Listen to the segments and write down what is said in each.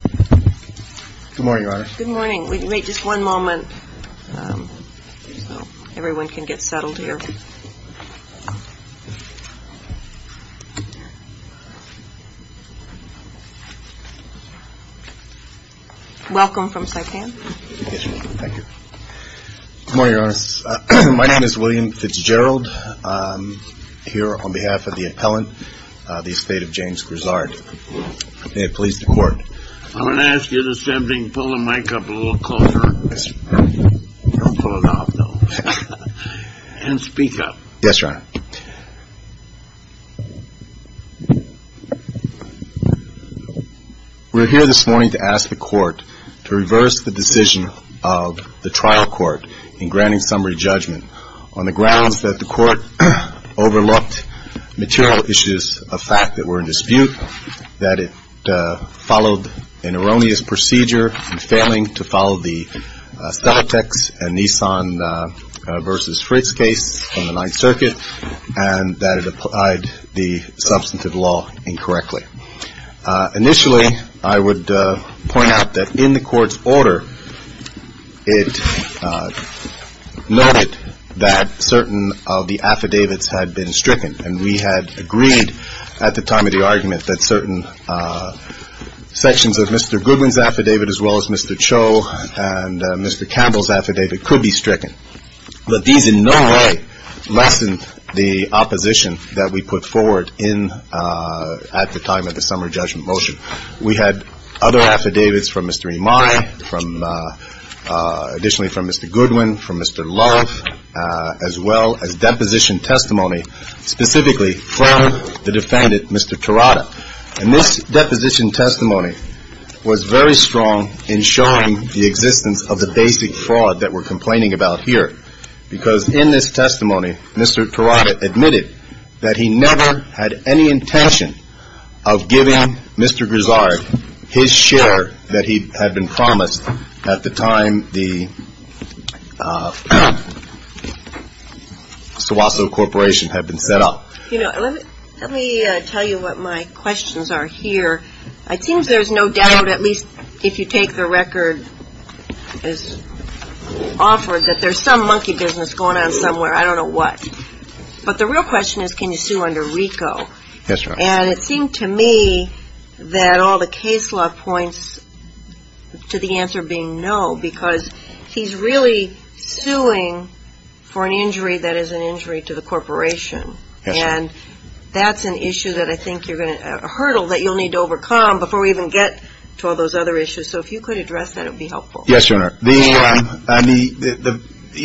Good morning, Your Honor. My name is William Fitzgerald. I'm here on behalf of the appellant, the estate of James Grizzard. May it please the Court. I'm going to ask you to stand up and speak up. Yes, Your Honor. We're here this morning to ask the Court to reverse the decision of the trial court in granting summary judgment on the grounds that the Court overlooked material issues of fact that were in dispute, that it followed an erroneous procedure in failing to follow the Steltex and Nissan v. Fritz case from the Ninth Circuit, and that it applied the substantive law incorrectly. Initially, I would point out that in the Court's order, it noted that certain of the affidavits had been stricken, and we had agreed at the time of the argument that certain sections of Mr. Goodwin's affidavit, as well as Mr. Cho and Mr. Campbell's affidavit, could be stricken. But these in no way lessened the opposition that we put forward at the time of the summary judgment motion. We had other affidavits from Mr. Imai, additionally from Mr. Goodwin, from Mr. Love, as well as deposition testimony specifically from the defendant, Mr. Terada. And this deposition testimony was very strong in showing the existence of the basic fraud that we're complaining about here, because in this testimony, Mr. Terada admitted that he never had any intention of giving Mr. Grizard his share that he had been promised at the time the Sowaso Corporation had been set up. Let me tell you what my questions are here. It seems there's no doubt, at least if you take the record as offered, that there's some monkey business going on somewhere. I don't know what. But the real question is, can you sue under RICO? Yes, Your Honor. And it seemed to me that all the case law points to the answer being no, because he's really suing for an injury that is an injury to the corporation. And that's an issue that I think you're going to – a hurdle that you'll need to overcome before we even get to all those other issues. So if you could address that, it would be helpful. Yes, Your Honor. The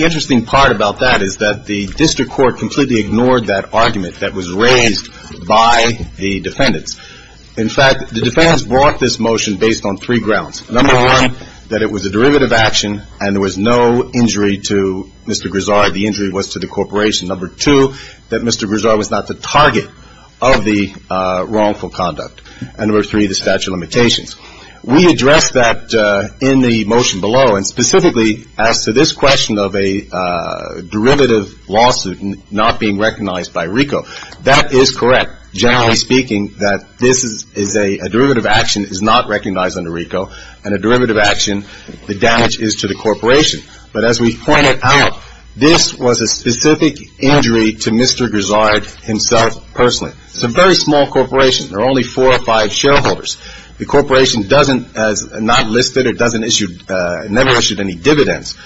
interesting part about that is that the district court completely ignored that argument that was raised by the defendants. In fact, the defendants brought this motion based on three grounds. Number one, that it was a derivative action and there was no injury to Mr. Grizard. The injury was to the corporation. Number two, that Mr. Grizard was not the target of the wrongful conduct. And number three, the statute of limitations. We addressed that in the motion below, and specifically as to this question of a derivative lawsuit not being recognized by RICO. That is correct, generally speaking, that this is a derivative action that is not recognized under RICO, and a derivative action, the damage is to the corporation. But as we pointed out, this was a specific injury to Mr. Grizard himself personally. It's a very small corporation. There are only four or five shareholders. The corporation doesn't, has not listed or doesn't issue, never issued any dividends.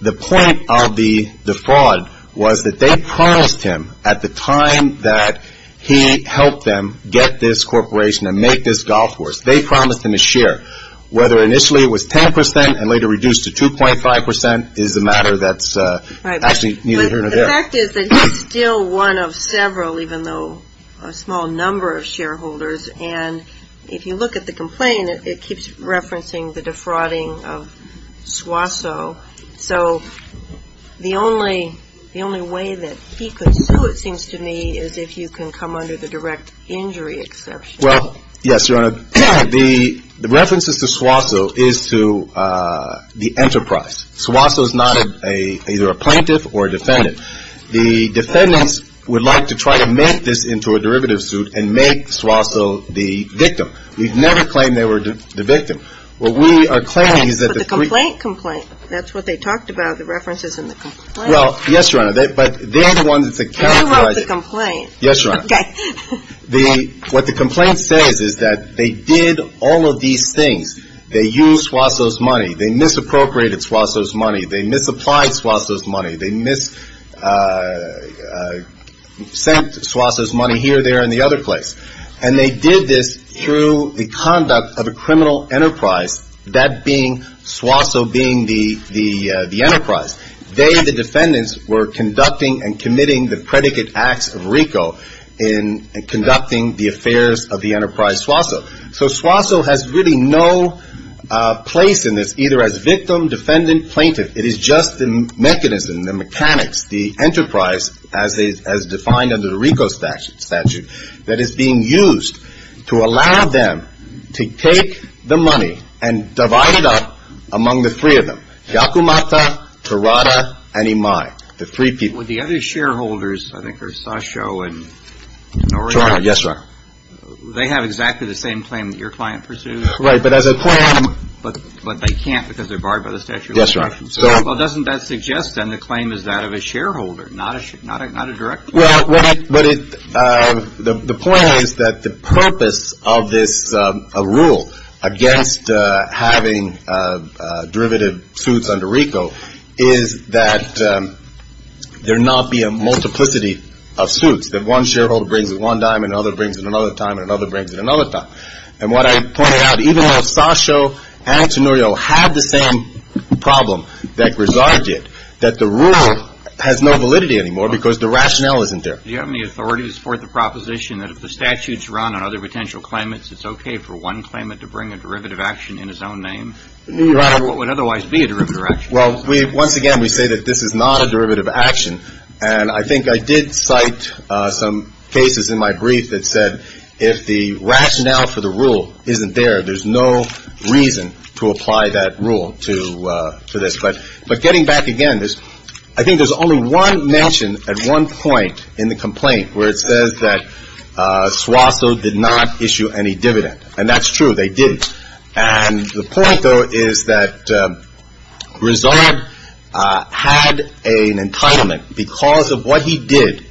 The point of the fraud was that they promised him at the time that he helped them get this corporation and make this golf course, they promised him a share. Whether initially it was 10% and later reduced to 2.5% is a matter that's actually neither here nor there. The fact is that he's still one of several, even though a small number of shareholders. And if you look at the complaint, it keeps referencing the defrauding of Swaso. So the only way that he could sue, it seems to me, is if you can come under the direct injury exception. Well, yes, Your Honor. The references to Swaso is to the enterprise. Swaso is not either a plaintiff or a defendant. The defendants would like to try to make this into a derivative suit and make Swaso the victim. We've never claimed they were the victim. What we are claiming is that the three. But the complaint complaint, that's what they talked about, the references in the complaint. Well, yes, Your Honor. But they're the ones that characterize it. You wrote the complaint. Yes, Your Honor. Okay. What the complaint says is that they did all of these things. They used Swaso's money. They misappropriated Swaso's money. They misapplied Swaso's money. They sent Swaso's money here, there, and the other place. And they did this through the conduct of a criminal enterprise, that being Swaso being the enterprise. They, the defendants, were conducting and committing the predicate acts of RICO in conducting the affairs of the enterprise Swaso. So Swaso has really no place in this, either as victim, defendant, plaintiff. It is just the mechanism, the mechanics, the enterprise, as defined under the RICO statute, that is being used to allow them to take the money and divide it up among the three of them, Yakumata, Terada, and Imai, the three people. With the other shareholders, I think they're Sasho and Norino. Yes, Your Honor. They have exactly the same claim that your client pursues. Right. But as a claim. But they can't because they're barred by the statute of limitations. Yes, Your Honor. Well, doesn't that suggest then the claim is that of a shareholder, not a direct claim? Well, the point is that the purpose of this rule against having derivative suits under RICO is that there not be a multiplicity of suits, that one shareholder brings it one time and another brings it another time and another brings it another time. And what I pointed out, even though Sasho and Norino have the same problem that Grizard did, that the rule has no validity anymore because the rationale isn't there. Do you have any authority to support the proposition that if the statute's run on other potential claimants, it's okay for one claimant to bring a derivative action in his own name? Your Honor. Or what would otherwise be a derivative action? Well, once again, we say that this is not a derivative action. And I think I did cite some cases in my brief that said if the rationale for the rule isn't there, there's no reason to apply that rule to this. But getting back again, I think there's only one mention at one point in the complaint where it says that Swaso did not issue any dividend. And that's true, they didn't. And the point, though, is that Grizard had an entitlement because of what he did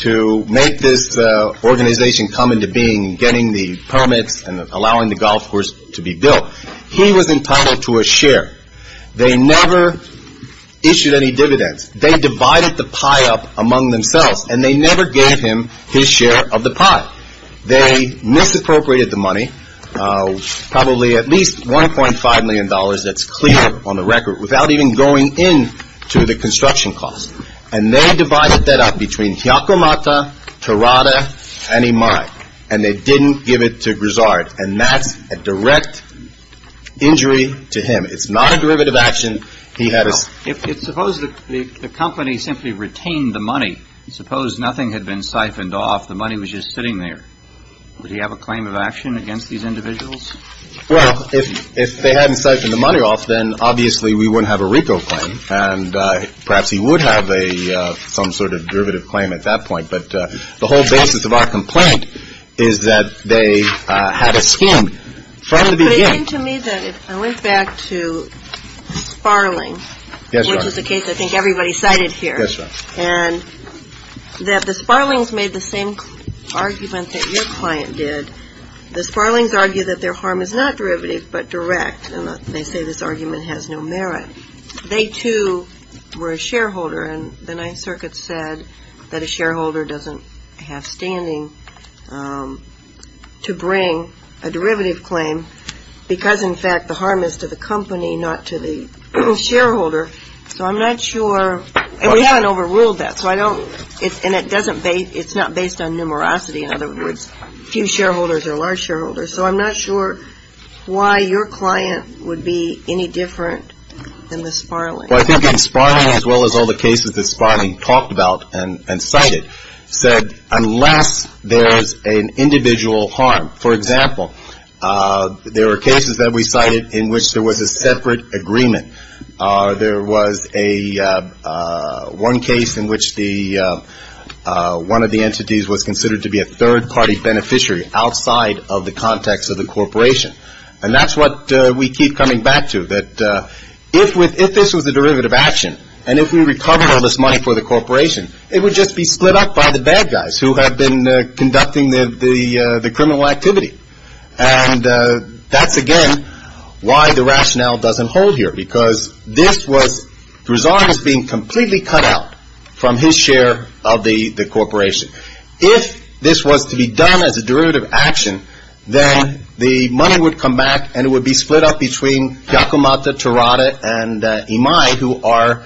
to make this organization come into being, getting the permits and allowing the golf course to be built. He was entitled to a share. They never issued any dividends. They divided the pie up among themselves. And they never gave him his share of the pie. They misappropriated the money, probably at least $1.5 million that's clear on the record, without even going into the construction cost. And they divided that up between Hyakumata, Terada, and Imai. And they didn't give it to Grizard. And that's a direct injury to him. It's not a derivative action. He had a. Suppose the company simply retained the money. Suppose nothing had been siphoned off. The money was just sitting there. Would he have a claim of action against these individuals? Well, if they hadn't siphoned the money off, then obviously we wouldn't have a RICO claim. And perhaps he would have some sort of derivative claim at that point. But the whole basis of our complaint is that they had a scheme. It seemed to me that if I went back to Sparling, which is a case I think everybody cited here, and that the Sparlings made the same argument that your client did, the Sparlings argued that their harm is not derivative but direct. And they say this argument has no merit. They, too, were a shareholder. And the Ninth Circuit said that a shareholder doesn't have standing to bring a derivative claim because, in fact, the harm is to the company, not to the shareholder. So I'm not sure. And we haven't overruled that. So I don't. And it's not based on numerosity, in other words, few shareholders or large shareholders. So I'm not sure why your client would be any different than the Sparling. Well, I think that Sparling, as well as all the cases that Sparling talked about and cited, said unless there is an individual harm. For example, there were cases that we cited in which there was a separate agreement. There was one case in which one of the entities was considered to be a third-party beneficiary outside of the context of the corporation. And that's what we keep coming back to. That if this was a derivative action and if we recovered all this money for the corporation, it would just be split up by the bad guys who had been conducting the criminal activity. And that's, again, why the rationale doesn't hold here because this was the result of being completely cut out from his share of the corporation. If this was to be done as a derivative action, then the money would come back and it would be split up between Giacomata, Tirada, and Imai, who are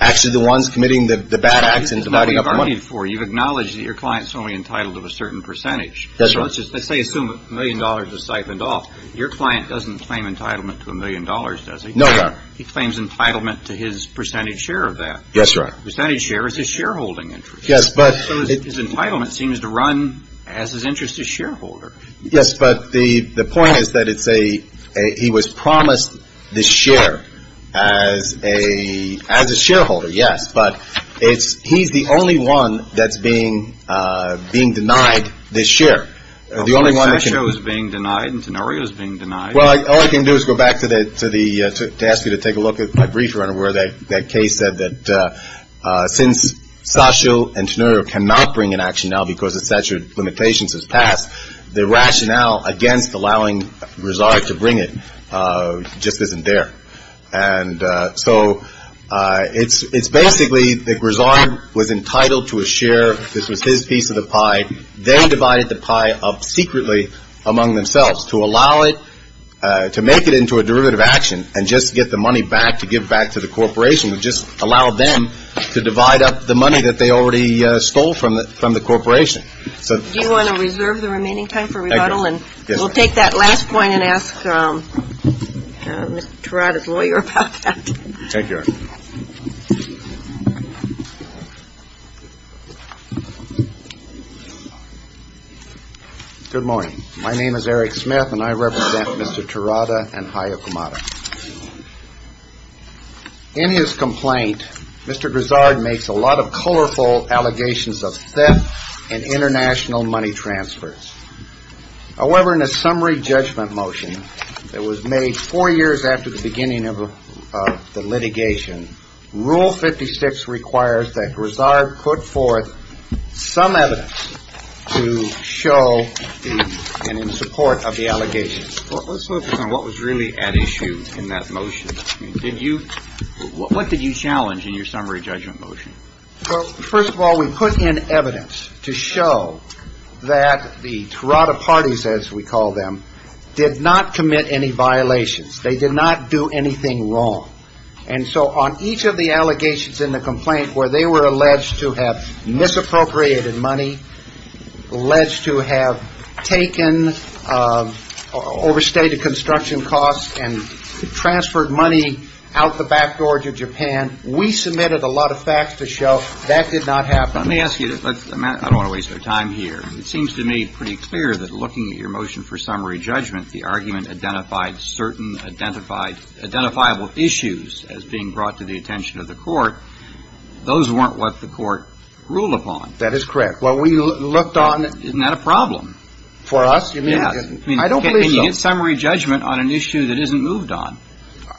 actually the ones committing the bad acts and dividing up the money. You've acknowledged that your client is only entitled to a certain percentage. Yes, sir. Let's say a million dollars is siphoned off. Your client doesn't claim entitlement to a million dollars, does he? No, sir. He claims entitlement to his percentage share of that. Yes, sir. Percentage share is his shareholding interest. So his entitlement seems to run as his interest as shareholder. Yes, but the point is that he was promised this share as a shareholder, yes. But he's the only one that's being denied this share. Sasho is being denied and Tenorio is being denied. All I can do is go back to ask you to take a look at my briefer where that case said that since Sasho and Tenorio cannot bring an action now because the statute of limitations has passed, the rationale against allowing Grisard to bring it just isn't there. And so it's basically that Grisard was entitled to a share. This was his piece of the pie. They divided the pie up secretly among themselves to allow it to make it into a derivative action and just get the money back to give back to the corporation and just allow them to divide up the money that they already stole from the corporation. Do you want to reserve the remaining time for rebuttal? Thank you. We'll take that last point and ask Mr. Turata's lawyer about that. Take care. Good morning. My name is Eric Smith and I represent Mr. Turata and Hayokumata. In his complaint, Mr. Grisard makes a lot of colorful allegations of theft and international money transfers. However, in a summary judgment motion that was made four years after the beginning of the litigation, Rule 56 requires that Grisard put forth some evidence to show and in support of the allegations. Let's focus on what was really at issue in that motion. Did you – what did you challenge in your summary judgment motion? Well, first of all, we put in evidence to show that the Turata parties, as we call them, did not commit any violations. They did not do anything wrong. And so on each of the allegations in the complaint where they were alleged to have misappropriated money, alleged to have taken overstated construction costs and transferred money out the back door to Japan, we submitted a lot of facts to show that did not happen. Let me ask you – I don't want to waste our time here. It seems to me pretty clear that looking at your motion for summary judgment, the argument identified certain identifiable issues as being brought to the attention of the Court. Those weren't what the Court ruled upon. That is correct. What we looked on – Isn't that a problem? For us? Yes. I don't believe so. Can you get summary judgment on an issue that isn't moved on?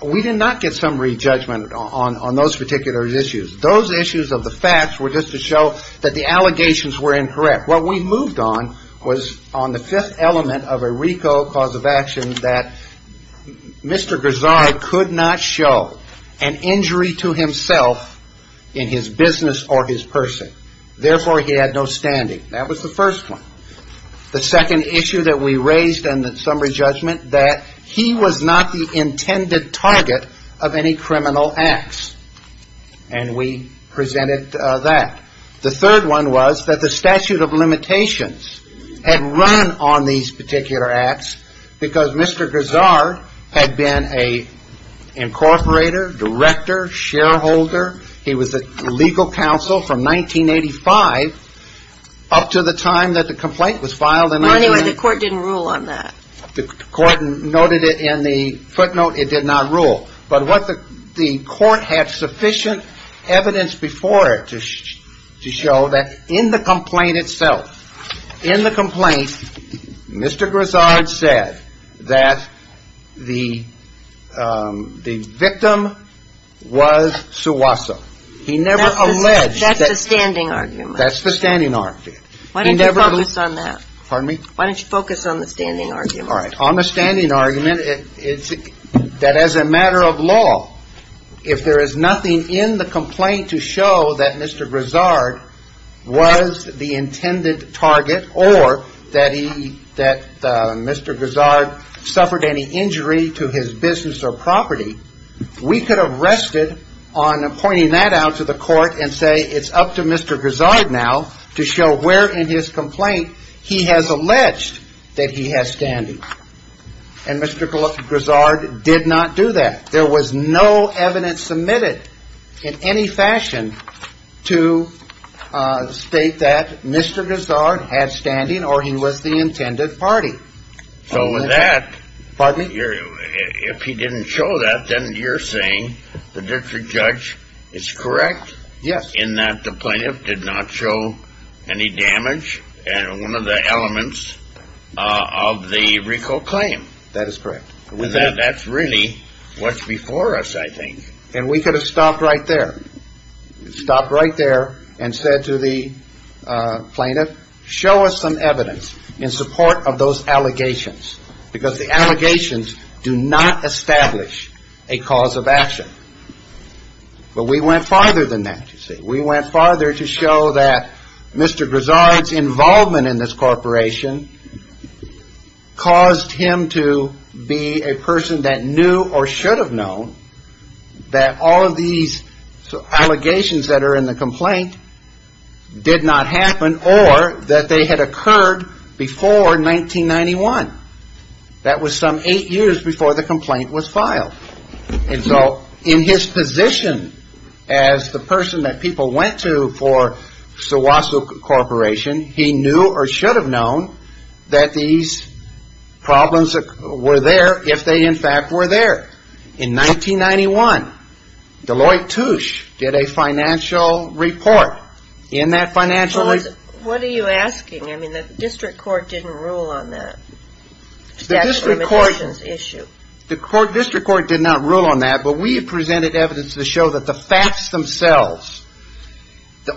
We did not get summary judgment on those particular issues. Those issues of the facts were just to show that the allegations were incorrect. What we moved on was on the fifth element of a RICO cause of action that Mr. Garzard could not show an injury to himself in his business or his person. Therefore, he had no standing. That was the first one. The second issue that we raised in the summary judgment, that he was not the intended target of any criminal acts. And we presented that. The third one was that the statute of limitations had run on these particular acts because Mr. Garzard had been an incorporator, director, shareholder. He was a legal counsel from 1985 up to the time that the complaint was filed. Well, anyway, the Court didn't rule on that. The Court noted it in the footnote. It did not rule. But what the Court had sufficient evidence before it to show that in the complaint itself, in the complaint, Mr. Garzard said that the victim was Suwaso. He never alleged that. That's the standing argument. That's the standing argument. Why don't you focus on that? Pardon me? Why don't you focus on the standing argument? All right. On the standing argument, that as a matter of law, if there is nothing in the complaint to show that Mr. Garzard was the intended target or that Mr. Garzard suffered any injury to his business or property, we could have rested on pointing that out to the Court and say it's up to Mr. Garzard now to show where in his complaint he has alleged that he has standing. And Mr. Garzard did not do that. There was no evidence submitted in any fashion to state that Mr. Garzard had standing or he was the intended party. So with that, if he didn't show that, then you're saying the district judge is correct in that the plaintiff did not show any damage in one of the elements of the RICO claim? That is correct. That's really what's before us, I think. And we could have stopped right there. Stopped right there and said to the plaintiff, show us some evidence in support of those allegations, because the allegations do not establish a cause of action. But we went farther than that, you see. We went farther to show that Mr. Garzard's involvement in this corporation caused him to be a person that knew or should have known that all of these allegations that are in the complaint did not happen or that they had occurred before 1991. That was some eight years before the complaint was filed. And so in his position as the person that people went to for Suwasu Corporation, he knew or should have known that these problems were there if they in fact were there. In 1991, Deloitte Touche did a financial report in that financial report. What are you asking? I mean, the district court didn't rule on that. The district court did not rule on that, but we have presented evidence to show that the facts themselves,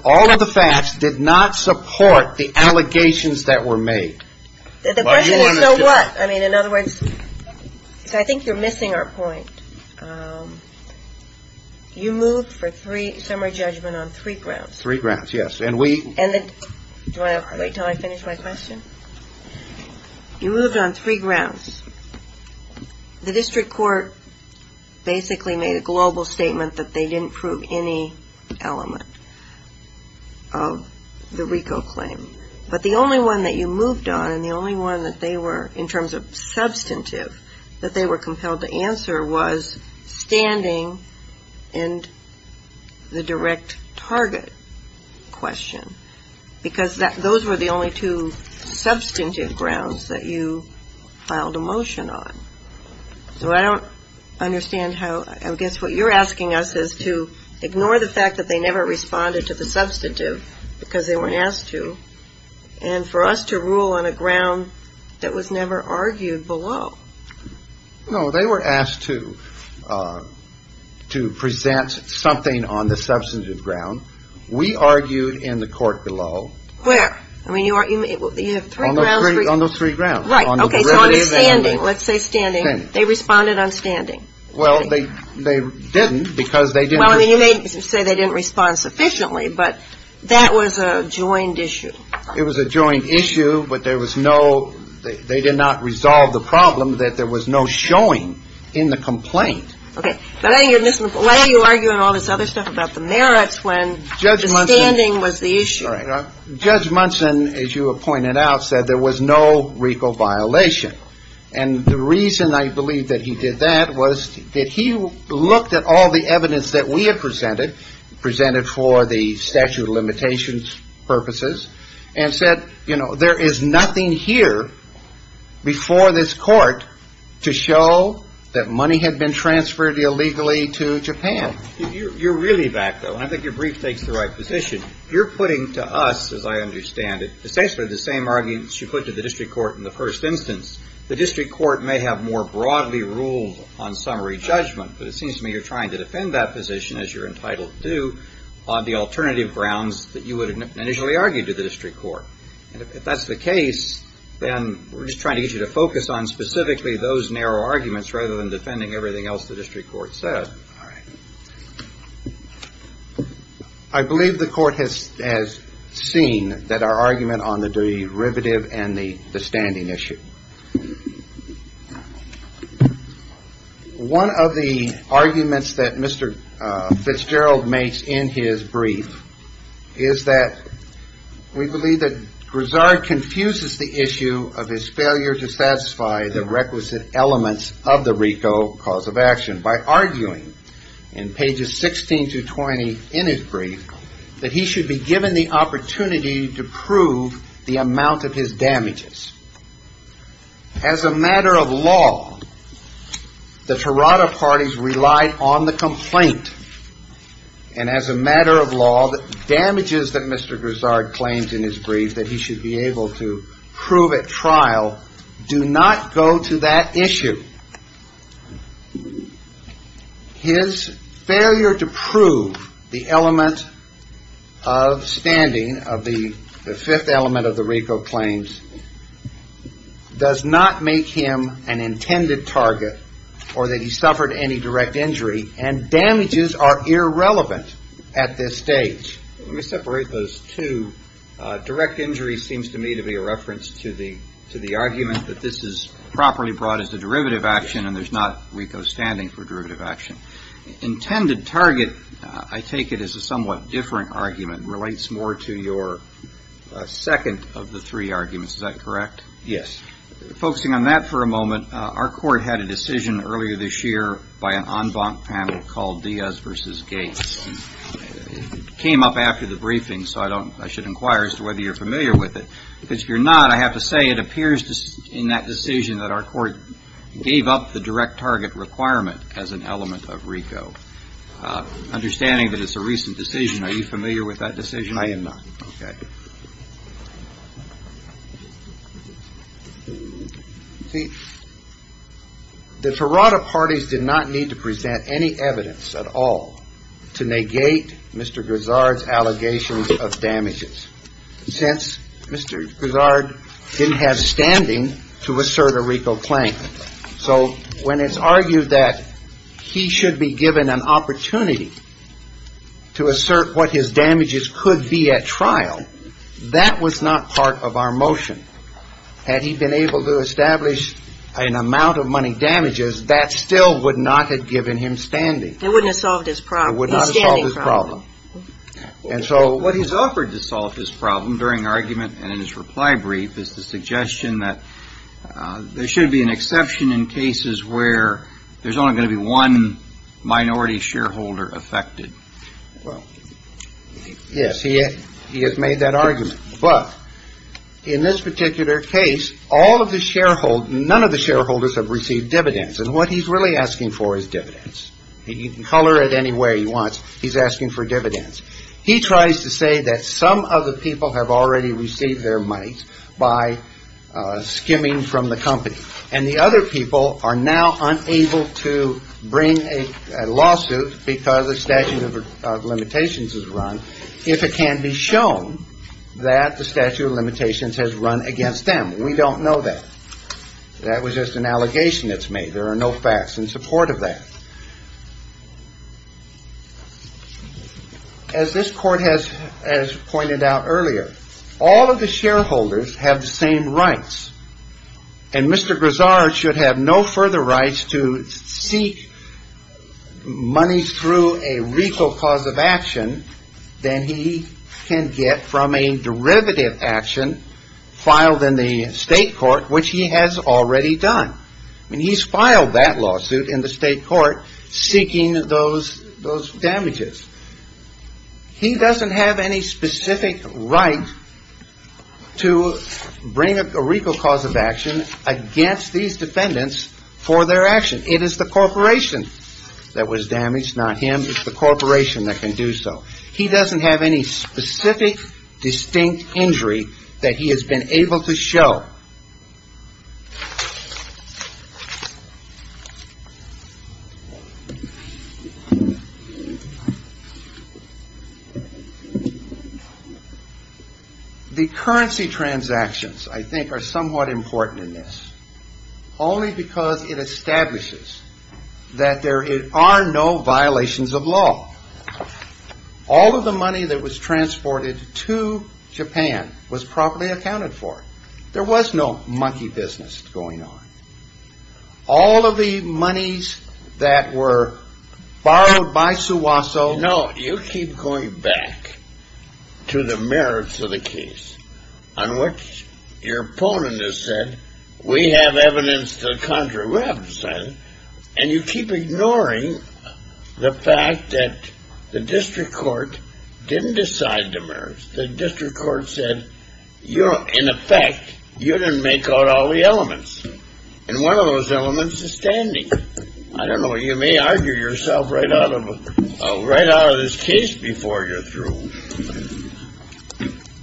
all of the facts did not support the allegations that were made. The question is, so what? I mean, in other words, so I think you're missing our point. You moved for summary judgment on three grounds. Three grounds, yes. Do you want to wait until I finish my question? You moved on three grounds. The district court basically made a global statement that they didn't prove any element of the RICO claim. But the only one that you moved on and the only one that they were, in terms of substantive, that they were compelled to answer was standing and the direct target question. Because those were the only two substantive grounds that you filed a motion on. So I don't understand how, I guess what you're asking us is to ignore the fact that they never responded to the substantive because they weren't asked to, and for us to rule on a ground that was never argued below. No, they were asked to present something on the substantive ground. We argued in the court below. Where? I mean, you have three grounds. On those three grounds. Right, okay, so on the standing, let's say standing, they responded on standing. Well, they didn't because they didn't. Well, I mean, you may say they didn't respond sufficiently, but that was a joined issue. It was a joined issue, but there was no, they did not resolve the problem that there was no showing in the complaint. Why are you arguing all this other stuff about the merits when the standing was the issue? Judge Munson, as you have pointed out, said there was no recall violation. And the reason I believe that he did that was that he looked at all the evidence that we had presented, presented for the statute of limitations purposes, and said, you know, there is nothing here before this court to show that money had been transferred illegally to Japan. You're really back, though, and I think your brief takes the right position. You're putting to us, as I understand it, essentially the same arguments you put to the district court in the first instance. The district court may have more broadly ruled on summary judgment, but it seems to me you're trying to defend that position, as you're entitled to, on the alternative grounds that you would initially argue to the district court. And if that's the case, then we're just trying to get you to focus on specifically those narrow arguments rather than defending everything else the district court said. All right. I believe the court has seen that our argument on the derivative and the standing issue. One of the arguments that Mr. Fitzgerald makes in his brief is that we believe that Grisard confuses the issue of his failure to satisfy the requisite elements of the RICO cause of action by arguing, in pages 16 to 20 in his brief, that he should be given the opportunity to prove the amount of his damages. As a matter of law, the Tirada parties relied on the complaint, and as a matter of law, the damages that Mr. Grisard claims in his brief that he should be able to prove at trial do not go to that issue. His failure to prove the element of standing of the fifth element of the RICO claims does not make him an intended target or that he suffered any direct injury, and damages are irrelevant at this stage. Let me separate those two. Direct injury seems to me to be a reference to the argument that this is properly brought as a derivative action, and there's not RICO standing for derivative action. Intended target, I take it, is a somewhat different argument. It relates more to your second of the three arguments. Is that correct? Yes. Focusing on that for a moment, our court had a decision earlier this year by an en banc panel called Diaz v. Gates. It came up after the briefing, so I should inquire as to whether you're familiar with it, because if you're not, I have to say it appears in that decision that our court gave up the direct target requirement as an element of RICO. Understanding that it's a recent decision, are you familiar with that decision? I am not. Okay. See, the Tirada parties did not need to present any evidence at all to negate Mr. Guzzard's allegations of damages, since Mr. Guzzard didn't have standing to assert a RICO claim. So when it's argued that he should be given an opportunity to assert what his damages could be at trial, that was not part of our motion. Had he been able to establish an amount of money damages, that still would not have given him standing. It wouldn't have solved his problem. It would not have solved his problem. He's standing probably. And so what he's offered to solve his problem during argument and in his reply brief is the suggestion that there should be an exception in cases where there's only going to be one minority shareholder affected. Well, yes, he has made that argument. But in this particular case, all of the shareholders, none of the shareholders have received dividends. And what he's really asking for is dividends. He can color it any way he wants. He's asking for dividends. He tries to say that some of the people have already received their money by skimming from the company. And the other people are now unable to bring a lawsuit because the statute of limitations is run. If it can be shown that the statute of limitations has run against them. We don't know that. That was just an allegation that's made. There are no facts in support of that. As this court has pointed out earlier, all of the shareholders have the same rights. And Mr. Grizard should have no further rights to seek money through a legal cause of action. Then he can get from a derivative action filed in the state court, which he has already done. And he's filed that lawsuit in the state court seeking those those damages. He doesn't have any specific right to bring up a legal cause of action against these defendants for their action. It is the corporation that was damaged, not him. It's the corporation that can do so. He doesn't have any specific distinct injury that he has been able to show. The currency transactions, I think, are somewhat important in this. Only because it establishes that there are no violations of law. All of the money that was transported to Japan was properly accounted for. There was no monkey business going on. All of the monies that were borrowed by Suwaso. No, you keep going back to the merits of the case on what your opponent has said. We have evidence to the contrary. We haven't decided. And you keep ignoring the fact that the district court didn't decide the merits. The district court said, in effect, you didn't make out all the elements. And one of those elements is standing. I don't know. You may argue yourself right out of this case before you're through.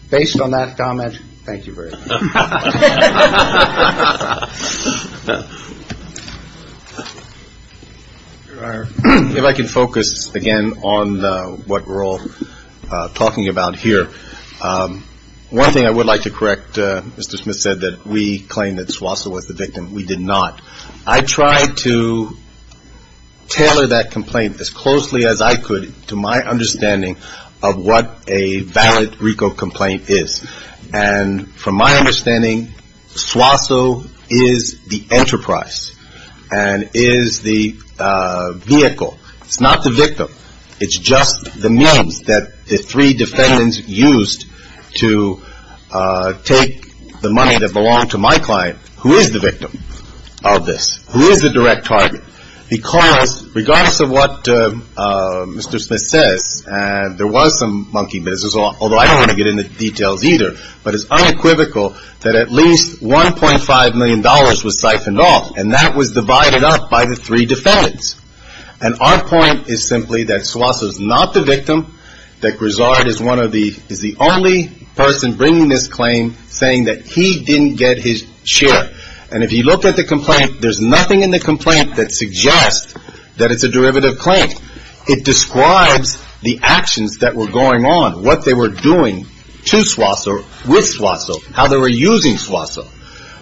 Based on that comment, thank you very much. If I can focus again on what we're all talking about here. One thing I would like to correct, Mr. Smith said that we claim that Suwaso was the victim. We did not. I tried to tailor that complaint as closely as I could to my understanding of what a valid RICO complaint is. And from my understanding, Suwaso is the enterprise and is the vehicle. It's just the means that the three defendants used to take the money that belonged to my client. Who is the victim of this? Who is the direct target? Because regardless of what Mr. Smith says, and there was some monkey business, although I don't want to get into details either, but it's unequivocal that at least $1.5 million was siphoned off, and that was divided up by the three defendants. And our point is simply that Suwaso is not the victim, that Grizzard is the only person bringing this claim saying that he didn't get his share. And if you look at the complaint, there's nothing in the complaint that suggests that it's a derivative claim. It describes the actions that were going on, what they were doing to Suwaso, with Suwaso, how they were using Suwaso.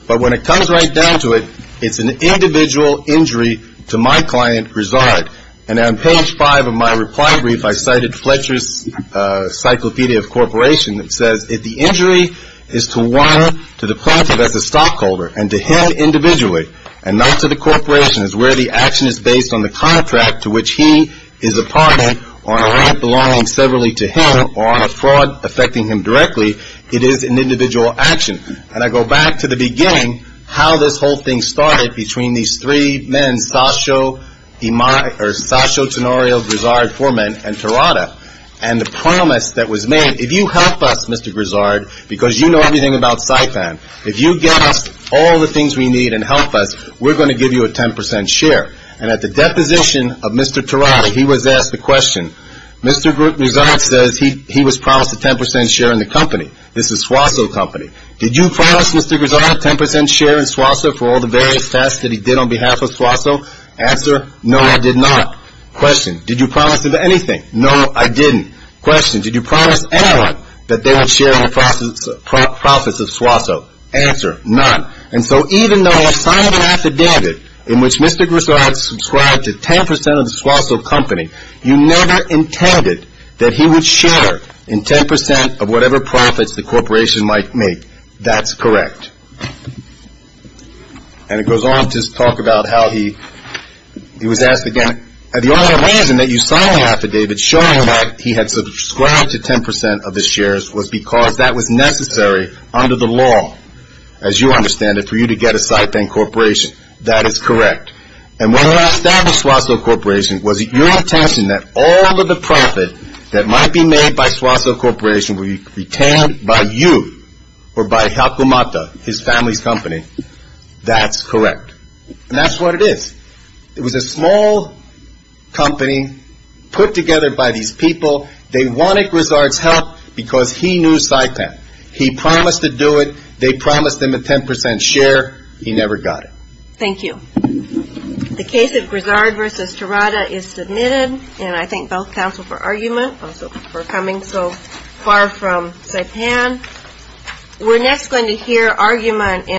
But when it comes right down to it, it's an individual injury to my client, Grizzard. And on page five of my reply brief, I cited Fletcher's Cyclopedia of Corporation. It says, if the injury is to one, to the plaintiff as a stockholder, and to him individually, and not to the corporation as where the action is based on the contract to which he is a partner, or on a rent belonging severally to him, or on a fraud affecting him directly, it is an individual action. And I go back to the beginning, how this whole thing started between these three men, Sasho Tenorio Grizzard, four men, and Terada. And the promise that was made, if you help us, Mr. Grizzard, because you know everything about Saipan, if you get us all the things we need and help us, we're going to give you a 10 percent share. And at the deposition of Mr. Terada, he was asked the question, Mr. Grizzard says he was promised a 10 percent share in the company. This is Swaso Company. Did you promise Mr. Grizzard a 10 percent share in Swaso for all the various tasks that he did on behalf of Swaso? Answer, no, I did not. Question, did you promise him anything? No, I didn't. Question, did you promise anyone that they would share in the profits of Swaso? Answer, none. And so even though I signed an affidavit in which Mr. Grizzard subscribed to 10 percent of the Swaso Company, you never intended that he would share in 10 percent of whatever profits the corporation might make. That's correct. And it goes on to talk about how he was asked again, the only reason that you signed my affidavit showing that he had subscribed to 10 percent of the shares was because that was necessary under the law, as you understand it, for you to get a Saipan Corporation. That is correct. And when I established Swaso Corporation, was it your intention that all of the profit that might be made by Swaso Corporation would be retained by you or by Hakumata, his family's company? That's correct. And that's what it is. It was a small company put together by these people. They wanted Grizzard's help because he knew Saipan. He promised to do it. They promised him a 10 percent share. He never got it. Thank you. The case of Grizzard v. Terada is submitted. And I thank both counsel for argument, also for coming so far from Saipan. We're next going to hear argument in